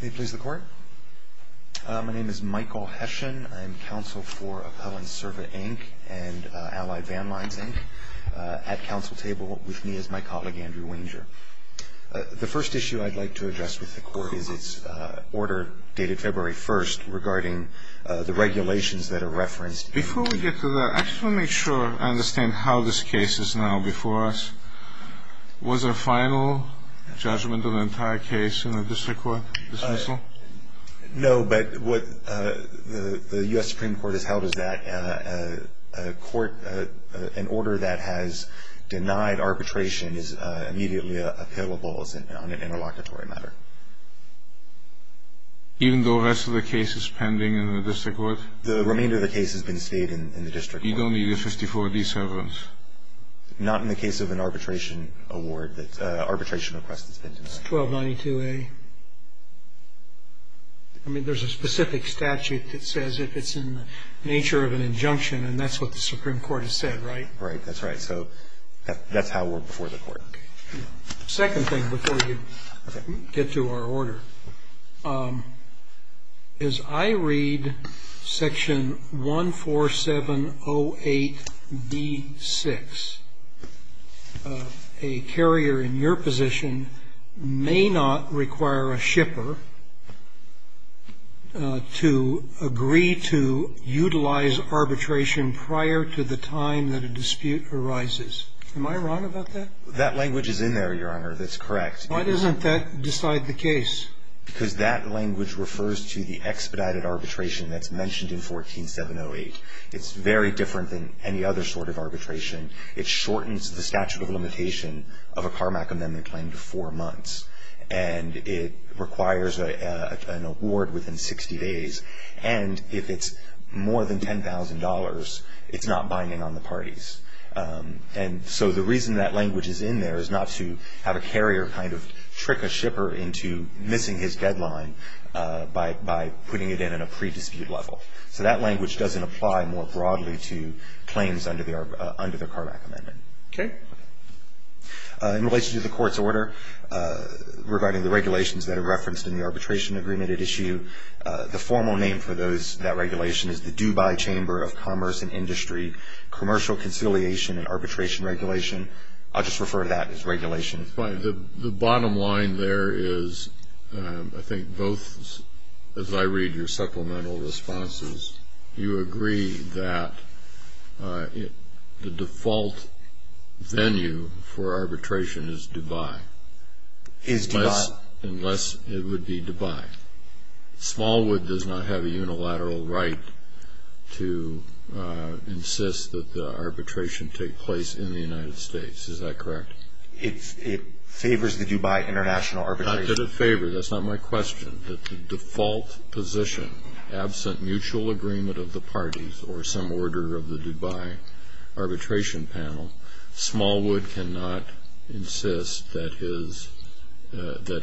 May it please the Court? My name is Michael Heshin. I'm counsel for Appellant Serva, Inc. and Allied Van Lines, Inc. at counsel table with me is my colleague Andrew Wenger. The first issue I'd like to address with the Court is its order dated February 1st regarding the regulations that are referenced. Before we get to that, I just want to make sure I understand how this case is now before us. Was there a final judgment of the entire case in the district court dismissal? No, but what the U.S. Supreme Court has held is that a court, an order that has denied arbitration is immediately appellable on an interlocutory matter. Even though the rest of the case is pending in the district court? The remainder of the case has been stayed in the district court. You don't need a 54-D servant? Not in the case of an arbitration request that's been denied. It's 1292A. I mean, there's a specific statute that says if it's in the nature of an injunction, and that's what the Supreme Court has said, right? Right, that's right. So that's how we're before the Court. Second thing before we get to our order. As I read section 14708B6, a carrier in your position may not require a shipper to agree to utilize arbitration prior to the time that a dispute arises. Am I wrong about that? That language is in there, Your Honor. That's correct. Why doesn't that decide the case? Because that language refers to the expedited arbitration that's mentioned in 14708. It's very different than any other sort of arbitration. It shortens the statute of limitation of a Carmack Amendment claim to four months. And it requires an award within 60 days. And if it's more than $10,000, it's not binding on the parties. And so the reason that language is in there is not to have a carrier kind of trick a shipper into missing his deadline by putting it in at a pre-dispute level. So that language doesn't apply more broadly to claims under the Carmack Amendment. Okay. In relation to the Court's order regarding the regulations that are referenced in the arbitration agreement at issue, the formal name for that regulation is the Dubai Chamber of Commerce and Industry Commercial Conciliation and Arbitration Regulation. I'll just refer to that as regulation. The bottom line there is I think both, as I read your supplemental responses, you agree that the default venue for arbitration is Dubai. Is Dubai. Unless it would be Dubai. Smallwood does not have a unilateral right to insist that the arbitration take place in the United States. Is that correct? It favors the Dubai international arbitration. Not that it favors. That's not my question. That the default position, absent mutual agreement of the parties or some order of the Dubai arbitration panel, Smallwood cannot insist that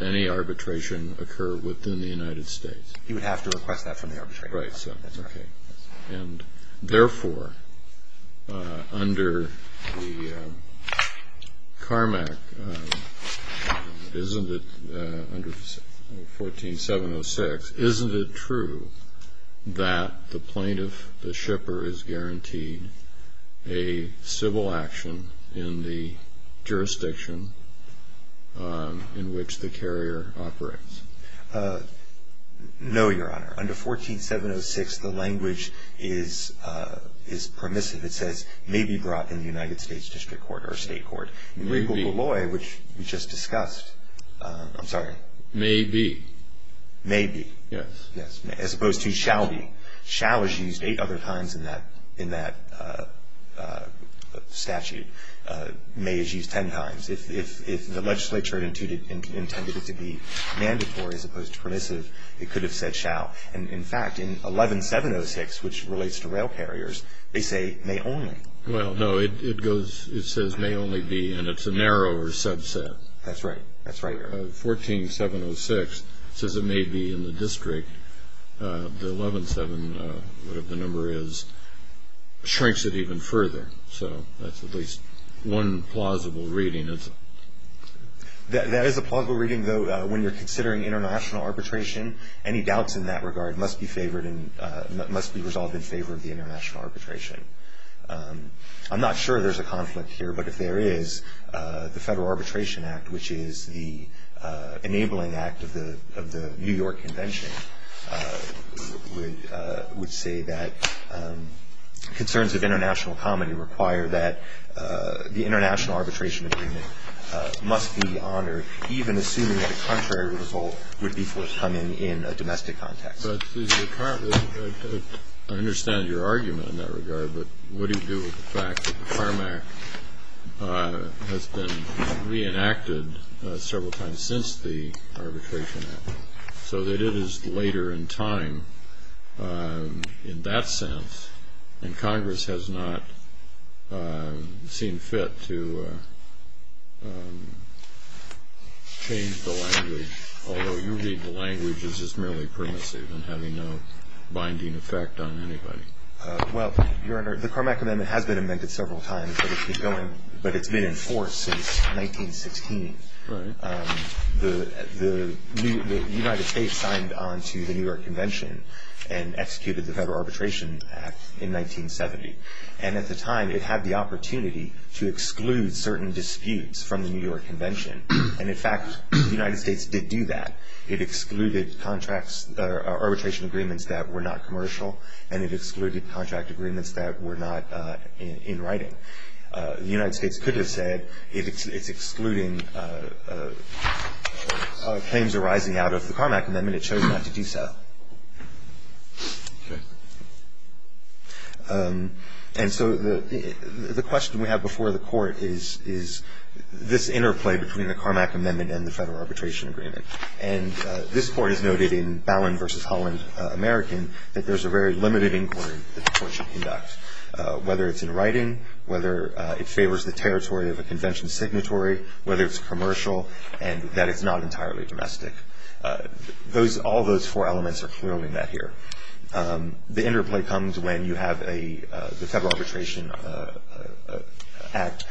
any arbitration occur within the United States. He would have to request that from the arbitration panel. Right. That's right. And therefore, under the Carmack, isn't it, under 14706, isn't it true that the plaintiff, the shipper, is guaranteed a civil action in the jurisdiction in which the carrier operates? No, Your Honor. Under 14706, the language is permissive. It says may be brought in the United States district court or state court. Legal Deloitte, which we just discussed, I'm sorry. May be. May be. Yes. Yes. As opposed to shall be. Shall is used eight other times in that statute. May is used ten times. If the legislature intended it to be mandatory as opposed to permissive, it could have said shall. And, in fact, in 11706, which relates to rail carriers, they say may only. Well, no, it goes, it says may only be, and it's a narrower subset. That's right. That's right, Your Honor. Under 14706, it says it may be in the district. The 11-7, whatever the number is, shrinks it even further. So that's at least one plausible reading. That is a plausible reading, though, when you're considering international arbitration. Any doubts in that regard must be favored and must be resolved in favor of the international arbitration. I'm not sure there's a conflict here, but if there is, the Federal Arbitration Act, which is the enabling act of the New York Convention, would say that concerns of international common require that the international arbitration agreement must be honored, even assuming that the contrary result would be forthcoming in a domestic context. I understand your argument in that regard, but what do you do with the fact that the CARM Act has been reenacted several times since the arbitration act, so that it is later in time in that sense, and Congress has not seen fit to change the language, although you read the language as just merely permissive and having no binding effect on anybody? Well, Your Honor, the CARM Act amendment has been amended several times, but it's been in force since 1916. The United States signed on to the New York Convention and executed the Federal Arbitration Act in 1970. And at the time, it had the opportunity to exclude certain disputes from the New York Convention. And, in fact, the United States did do that. It excluded arbitration agreements that were not commercial, and it excluded contract agreements that were not in writing. The United States could have said it's excluding claims arising out of the CARM Act amendment. It chose not to do so. Okay. And so the question we have before the Court is this interplay between the CARM Act amendment and the Federal Arbitration Agreement. And this Court has noted in Ballin v. Holland, American, that there's a very limited inquiry that the Court should conduct, whether it's in writing, whether it favors the territory of a convention signatory, whether it's commercial, and that it's not entirely domestic. All those four elements are clearly met here. The interplay comes when you have the Federal Arbitration Act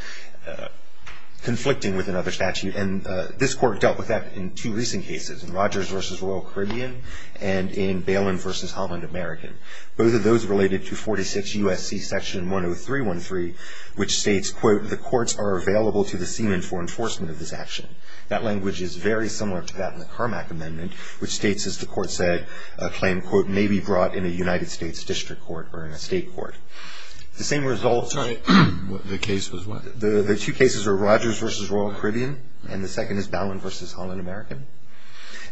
conflicting with another statute. And this Court dealt with that in two recent cases, in Rogers v. Royal Caribbean and in Ballin v. Holland, American. Both of those related to 46 U.S.C. Section 10313, which states, quote, That language is very similar to that in the CARM Act amendment, which states, as the Court said, a claim, quote, may be brought in a United States district court or in a state court. The same result of the two cases are Rogers v. Royal Caribbean and the second is Ballin v. Holland, American.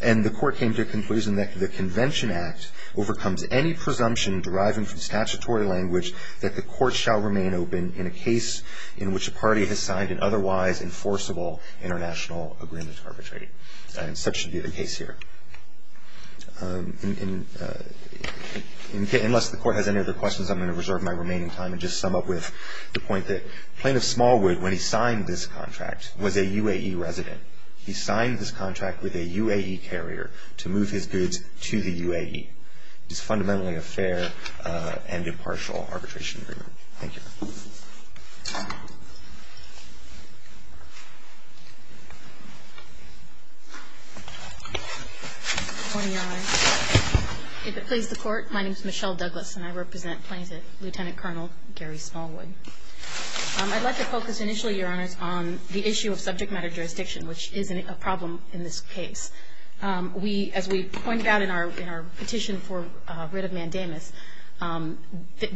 And the Court came to a conclusion that the Convention Act overcomes any presumption deriving from statutory language that the Court shall remain open in a case in which a party has signed an otherwise enforceable international agreement to arbitrate. And such should be the case here. Unless the Court has any other questions, I'm going to reserve my remaining time and just sum up with the point that Plaintiff Smallwood, when he signed this contract, was a UAE resident. He signed this contract with a UAE carrier to move his goods to the UAE. It is fundamentally a fair and impartial arbitration agreement. Thank you. MS. DOUGLAS. Good morning, Your Honor. If it please the Court, my name is Michelle Douglas, and I represent Plaintiff Lieutenant Colonel Gary Smallwood. I'd like to focus initially, Your Honors, on the issue of subject matter jurisdiction, which is a problem in this case. As we pointed out in our petition for writ of mandamus,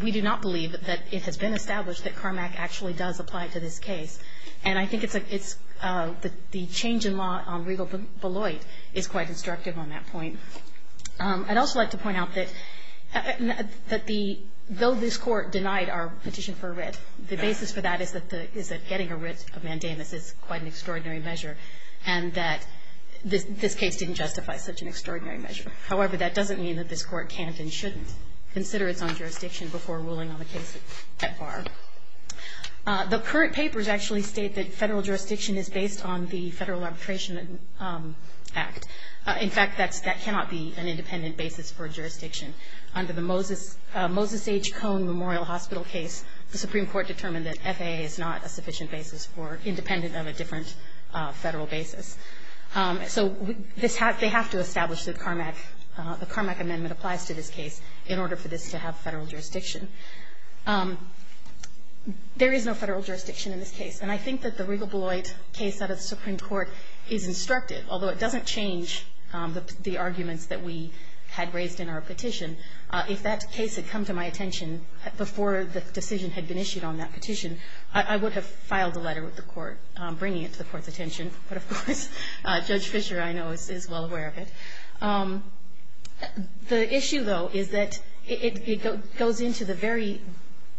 we do not believe that it has been established that CARMAC actually does apply to this case. And I think the change in law on Regal Beloit is quite instructive on that point. I'd also like to point out that though this Court denied our petition for a writ, the basis for that is that getting a writ of mandamus is quite an extraordinary measure, and that this case didn't justify such an extraordinary measure. However, that doesn't mean that this Court can't and shouldn't consider its own jurisdiction before ruling on the case at bar. The current papers actually state that federal jurisdiction is based on the Federal Arbitration Act. In fact, that cannot be an independent basis for jurisdiction. Under the Moses H. Cone Memorial Hospital case, the Supreme Court determined that FAA is not a sufficient basis for, independent of a different federal basis. So they have to establish that CARMAC, the CARMAC amendment applies to this case in order for this to have federal jurisdiction. There is no federal jurisdiction in this case, and I think that the Regal Beloit case out of the Supreme Court is instructive, although it doesn't change the arguments that we had raised in our petition. If that case had come to my attention before the decision had been issued on that petition, I would have filed a letter with the Court bringing it to the Court's attention. But, of course, Judge Fischer, I know, is well aware of it. The issue, though, is that it goes into the very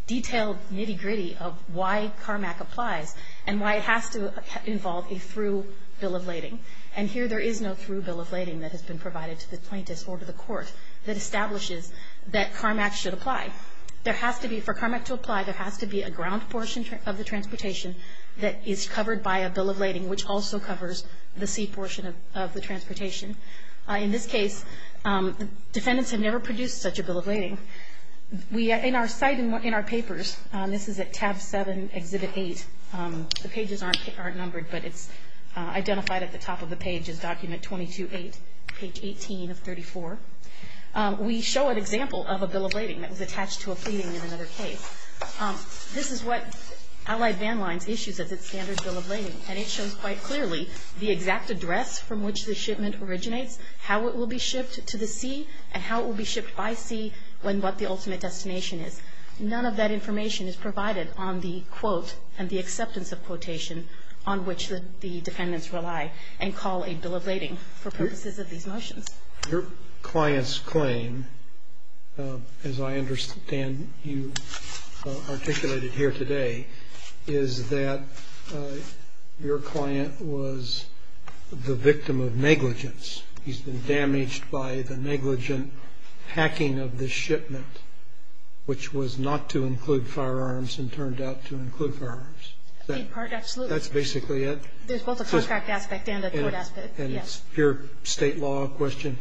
detailed nitty-gritty of why CARMAC applies and why it has to involve a through bill of lading. And here there is no through bill of lading that has been provided to the plaintiffs or to the Court that establishes that CARMAC should apply. There has to be, for CARMAC to apply, there has to be a ground portion of the transportation that is covered by a bill of lading which also covers the sea portion of the transportation. In this case, defendants have never produced such a bill of lading. In our site, in our papers, this is at tab 7, exhibit 8. The pages aren't numbered, but it's identified at the top of the page as document 22-8, page 18 of 34. We show an example of a bill of lading that was attached to a pleading in another case. This is what Allied Van Lines issues as its standard bill of lading, and it shows quite clearly the exact address from which the shipment originates, how it will be shipped to the sea, and how it will be shipped by sea, and what the ultimate destination is. None of that information is provided on the quote and the acceptance of quotation on which the defendants rely and call a bill of lading for purposes of these motions. Your client's claim, as I understand you articulated here today, is that your client was the victim of negligence. He's been damaged by the negligent hacking of the shipment, which was not to include firearms and turned out to include firearms. In part, absolutely. That's basically it? There's both a contract aspect and a court aspect, yes. And it's pure state law question?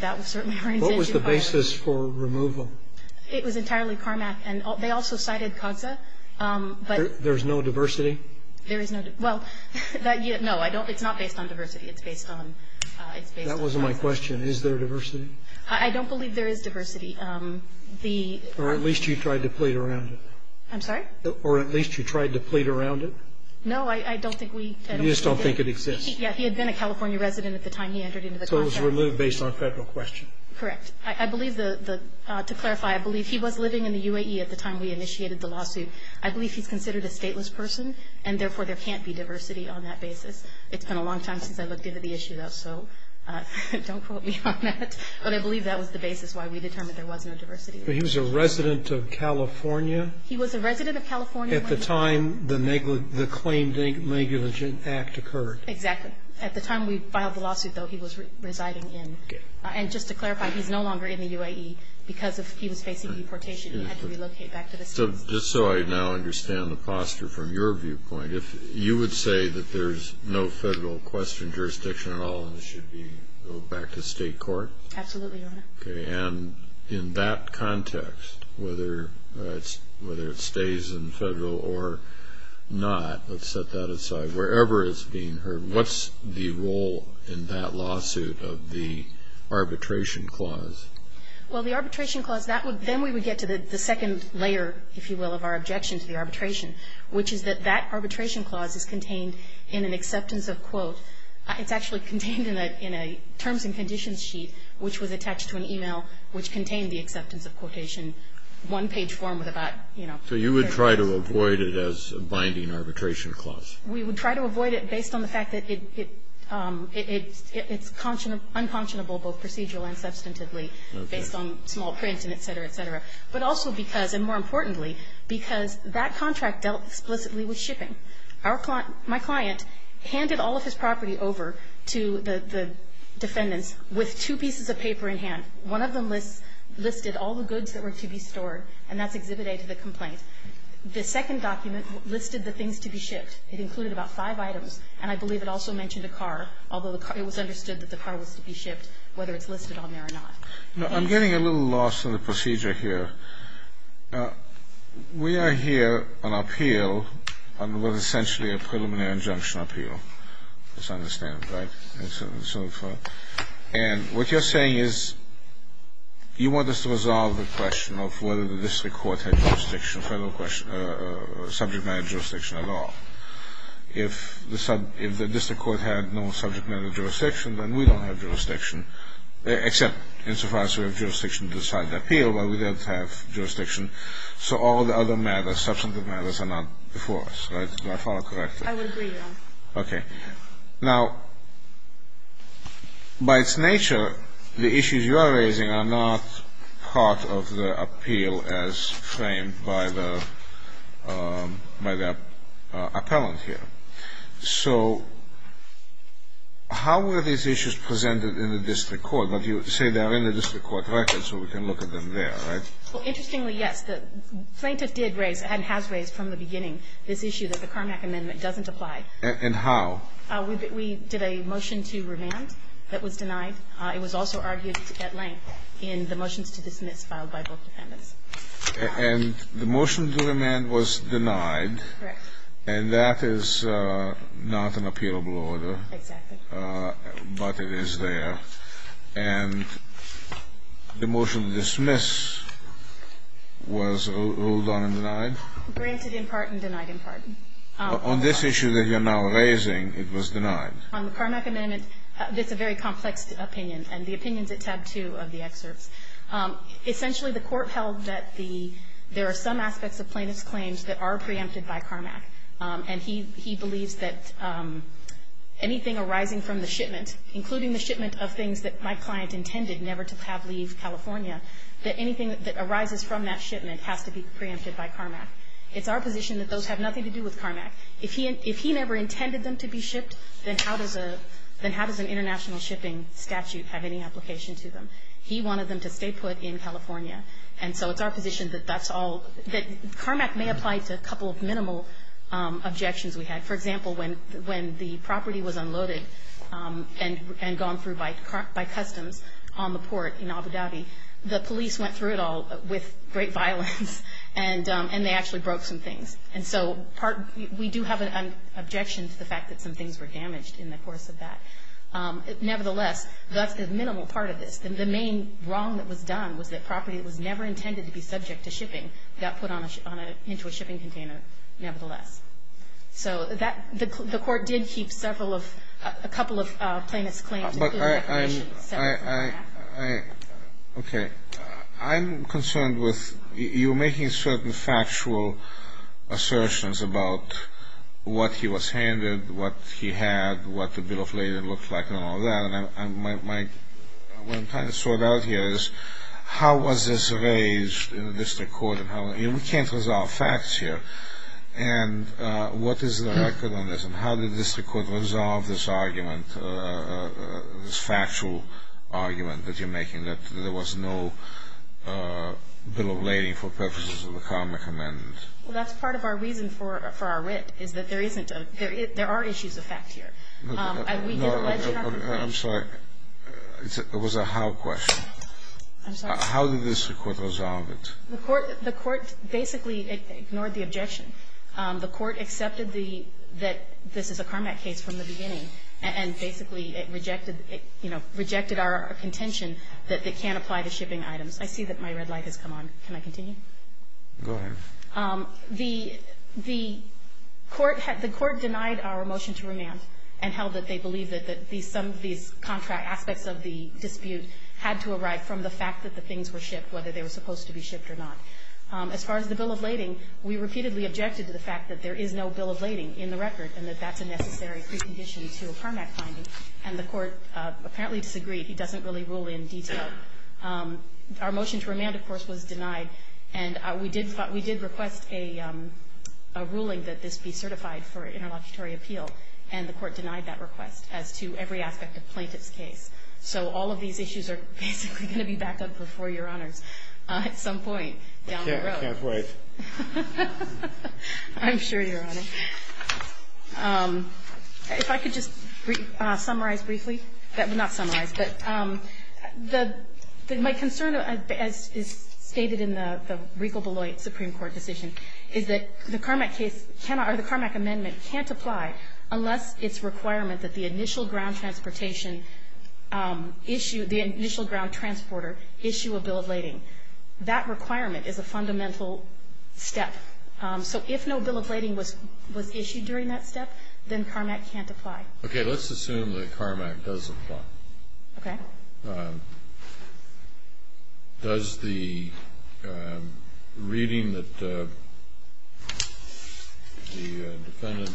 That was certainly our intention. What was the basis for removal? It was entirely CARMAC, and they also cited COGSA. There's no diversity? Well, no, it's not based on diversity. It's based on COGSA. That wasn't my question. Is there diversity? I don't believe there is diversity. Or at least you tried to plead around it. I'm sorry? Or at least you tried to plead around it? No, I don't think we did. You just don't think it exists? Yeah, he had been a California resident at the time he entered into the contract. So it was removed based on federal question? Correct. I believe, to clarify, I believe he was living in the UAE at the time we initiated the lawsuit. I believe he's considered a stateless person, and therefore there can't be diversity on that basis. It's been a long time since I looked into the issue, though, so don't quote me on that. But I believe that was the basis why we determined there was no diversity. But he was a resident of California? He was a resident of California. At the time the claim negligent act occurred. Exactly. At the time we filed the lawsuit, though, he was residing in. And just to clarify, he's no longer in the UAE because he was facing deportation. He had to relocate back to the states. Just so I now understand the posture from your viewpoint, you would say that there's no federal question jurisdiction at all and it should go back to state court? Absolutely, Your Honor. Okay. And in that context, whether it stays in federal or not, let's set that aside, wherever it's being heard, what's the role in that lawsuit of the arbitration clause? Well, the arbitration clause, then we would get to the second layer, if you will, of our objection to the arbitration, which is that that arbitration clause is contained in an acceptance of, quote, it's actually contained in a terms and conditions sheet which was attached to an e-mail which contained the acceptance of quotation, one-page form with about, you know. So you would try to avoid it as a binding arbitration clause? We would try to avoid it based on the fact that it's unconscionable both procedural and substantively based on small print and et cetera, et cetera. But also because, and more importantly, because that contract dealt explicitly with shipping. Our client, my client, handed all of his property over to the defendants with two pieces of paper in hand. One of them lists, listed all the goods that were to be stored, and that's Exhibit A to the complaint. The second document listed the things to be shipped. It included about five items, and I believe it also mentioned a car, although the car, it was understood that the car was to be shipped, whether it's listed on there or not. Thank you. I'm getting a little lost in the procedure here. We are here on appeal on what is essentially a preliminary injunction appeal, as I understand it, right? And what you're saying is you want us to resolve the question of whether the district court had jurisdiction, federal question, subject matter jurisdiction at all. If the district court had no subject matter jurisdiction, then we don't have jurisdiction, except insofar as we have jurisdiction to decide the appeal, but we don't have jurisdiction, so all the other matters, substantive matters, are not before us, right? Do I follow correctly? I would agree, Your Honor. Okay. Now, by its nature, the issues you are raising are not part of the appeal as framed by the appellant here. So how were these issues presented in the district court? But you say they are in the district court record, so we can look at them there, right? Well, interestingly, yes. The plaintiff did raise and has raised from the beginning this issue that the Carmack amendment doesn't apply. And how? We did a motion to remand that was denied. It was also argued at length in the motions to dismiss filed by both defendants. And the motion to remand was denied. Correct. And that is not an appealable order. Exactly. But it is there. And the motion to dismiss was ruled on and denied? Granted in part and denied in part. On this issue that you are now raising, it was denied. On the Carmack amendment, it's a very complex opinion, and the opinion is at tab 2 of the excerpts. Essentially, the court held that the – there are some aspects of plaintiff's claims that are preempted by Carmack. And he believes that anything arising from the shipment, including the shipment of things that my client intended never to have leave California, that anything that arises from that shipment has to be preempted by Carmack. It's our position that those have nothing to do with Carmack. If he never intended them to be shipped, then how does an international shipping statute have any application to them? He wanted them to stay put in California. And so it's our position that that's all – that Carmack may apply to a couple of minimal objections we had. For example, when the property was unloaded and gone through by customs on the port in Abu Dhabi, the police went through it all with great violence, and they actually broke some things. And so we do have an objection to the fact that some things were damaged in the course of that. Nevertheless, that's the minimal part of this. The main wrong that was done was that property that was never intended to be subject to shipping got put into a shipping container nevertheless. So that – the court did keep several of – a couple of plaintiffs' claims. But I'm – I – I – okay. I'm concerned with – you're making certain factual assertions about what he was handed, what he had, what the bill of lading looked like and all that. And my – what I'm trying to sort out here is how was this raised in the district court and how – you know, we can't resolve facts here. And what is the record on this? And how did the district court resolve this argument, this factual argument that you're making, that there was no bill of lading for purposes of the common commandment? Well, that's part of our reason for – for our writ, is that there isn't a – there are issues of fact here. No, no. I'm sorry. It was a how question. I'm sorry. How did the district court resolve it? The court – the court basically ignored the objection. The court accepted the – that this is a Carmack case from the beginning and basically it rejected – you know, rejected our contention that it can't apply the shipping items. I see that my red light has come on. Can I continue? Go ahead. The – the court – the court denied our motion to remand and held that they believed that these – some of these contract aspects of the dispute had to arrive from the supposed to be shipped or not. As far as the bill of lading, we repeatedly objected to the fact that there is no bill of lading in the record and that that's a necessary precondition to a Carmack finding. And the court apparently disagreed. He doesn't really rule in detail. Our motion to remand, of course, was denied. And we did – we did request a ruling that this be certified for interlocutory appeal. And the court denied that request as to every aspect of plaintiff's case. So all of these issues are basically going to be backed up before Your Honors at some point down the road. I can't wait. I'm sure, Your Honor. If I could just summarize briefly – well, not summarize, but the – my concern, as is stated in the Regal Beloit Supreme Court decision, is that the Carmack case cannot – or the Carmack amendment can't apply unless it's requirement that the initial ground transportation issue – the initial ground transporter issue a bill of lading. That requirement is a fundamental step. So if no bill of lading was issued during that step, then Carmack can't apply. Okay. Let's assume that Carmack does apply. Okay. Does the reading that the defendant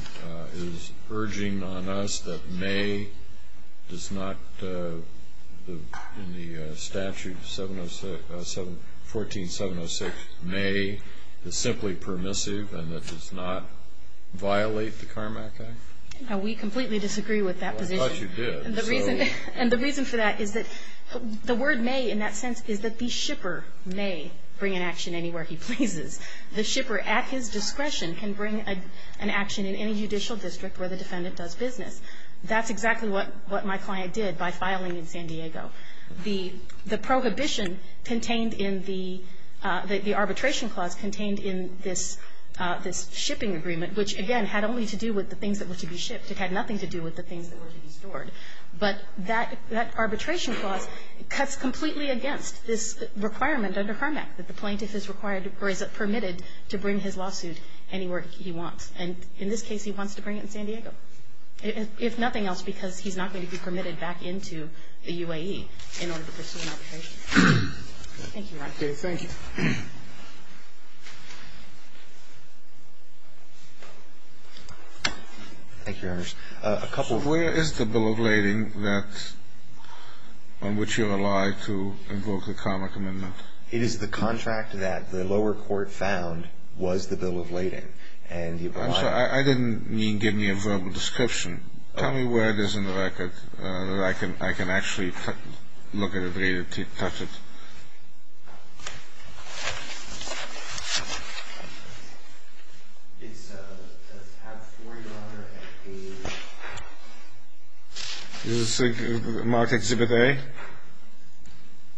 is urging on us that May does not – in the statute 707 – 14706, May is simply permissive and that does not violate the Carmack Act? We completely disagree with that position. Well, I thought you did. And the reason for that is that the word May, in that sense, is that the shipper may bring an action anywhere he pleases. The shipper, at his discretion, can bring an action in any judicial district where the defendant does business. That's exactly what my client did by filing in San Diego. The prohibition contained in the – the arbitration clause contained in this shipping agreement, which, again, had only to do with the things that were to be shipped. It had nothing to do with the things that were to be stored. But that – that arbitration clause cuts completely against this requirement under Carmack that the plaintiff is required or is permitted to bring his lawsuit anywhere he wants. And in this case, he wants to bring it in San Diego, if nothing else, because he's not going to be permitted back into the UAE in order to pursue an arbitration. Thank you, Your Honor. Okay. Thank you. Thank you, Your Honor. A couple of – Where is the bill of lading that – on which you rely to invoke the Carmack amendment? It is the contract that the lower court found was the bill of lading. And the – I'm sorry. I didn't mean give me a verbal description. Tell me where it is in the record that I can – I can actually look at it, read it, touch it. It's tab 4, Your Honor, at page – This is marked Exhibit A.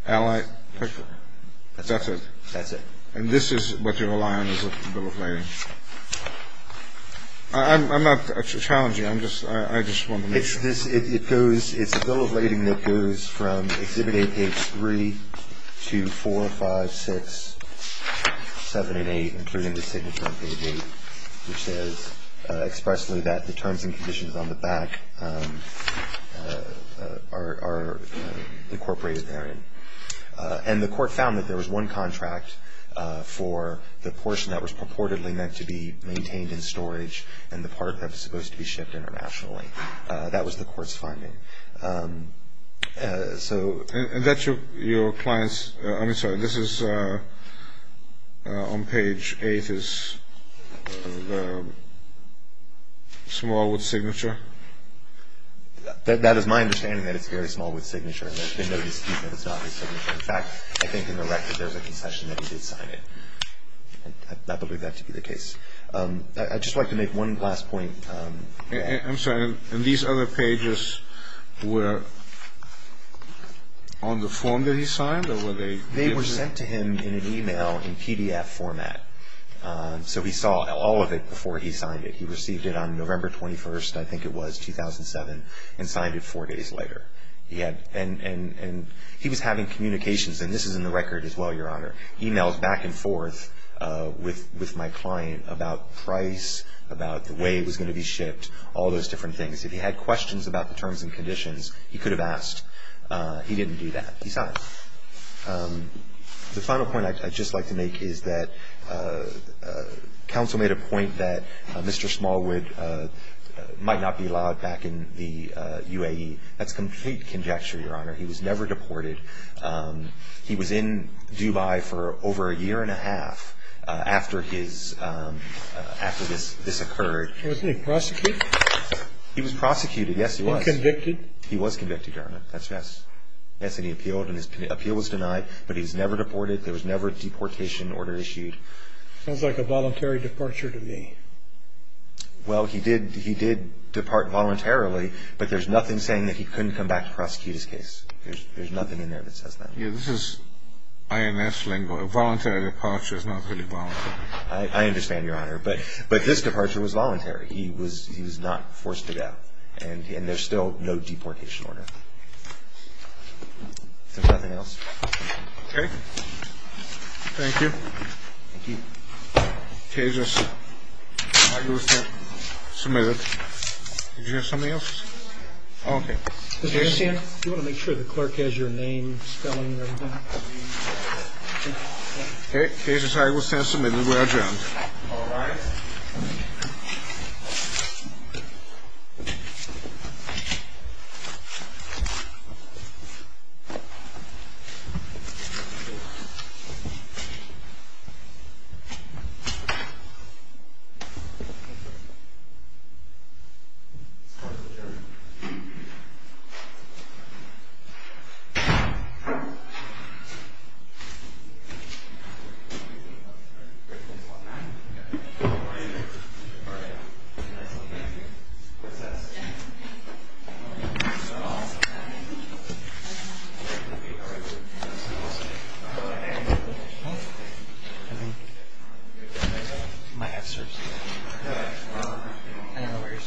Allied picture. That's it. That's it. And this is what you rely on as a bill of lading. I'm not challenging. I'm just – I just want to make sure. It's a bill of lading that goes from Exhibit A, page 3, to 4, 5, 6, 7, and 8, including the signature on page 8, which says expressly that the terms and conditions on the back are incorporated therein. And the court found that there was one contract for the portion that was purportedly meant to be maintained in storage and the part that was supposed to be shipped internationally. That was the court's finding. So – And that's your client's – I'm sorry. This is on page 8 is small with signature? That is my understanding, that it's very small with signature. There's been no dispute that it's not with signature. In fact, I think in the record there's a concession that he did sign it. I believe that to be the case. I'd just like to make one last point. I'm sorry. And these other pages were on the form that he signed or were they – They were sent to him in an email in PDF format. So he saw all of it before he signed it. He received it on November 21st, I think it was, 2007, and signed it four days later. He had – and he was having communications, and this is in the record as well, Your Honor, emails back and forth with my client about price, about the way it was going to be shipped, all those different things. If he had questions about the terms and conditions, he could have asked. He didn't do that. He signed. The final point I'd just like to make is that counsel made a point that Mr. Smallwood might not be allowed back in the UAE. That's complete conjecture, Your Honor. He was never deported. He was in Dubai for over a year and a half after this occurred. Wasn't he prosecuted? He was prosecuted, yes, he was. And convicted? He was convicted, Your Honor. That's right. Yes, and he appealed and his appeal was denied, but he was never deported. There was never a deportation order issued. Sounds like a voluntary departure to me. Well, he did depart voluntarily, but there's nothing saying that he couldn't come back to prosecute his case. There's nothing in there that says that. Yeah, this is INS lingo. A voluntary departure is not really voluntary. I understand, Your Honor, but this departure was voluntary. He was not forced to go, and there's still no deportation order. If there's nothing else. Okay. Thank you. Thank you. Okay, I'll just submit it. Did you have something else? Oh, okay. Do you want to make sure the clerk has your name, spelling, and everything? Okay, this is how you will send it to me when we are adjourned. All rise. I don't know what you're saying. I'm sorry.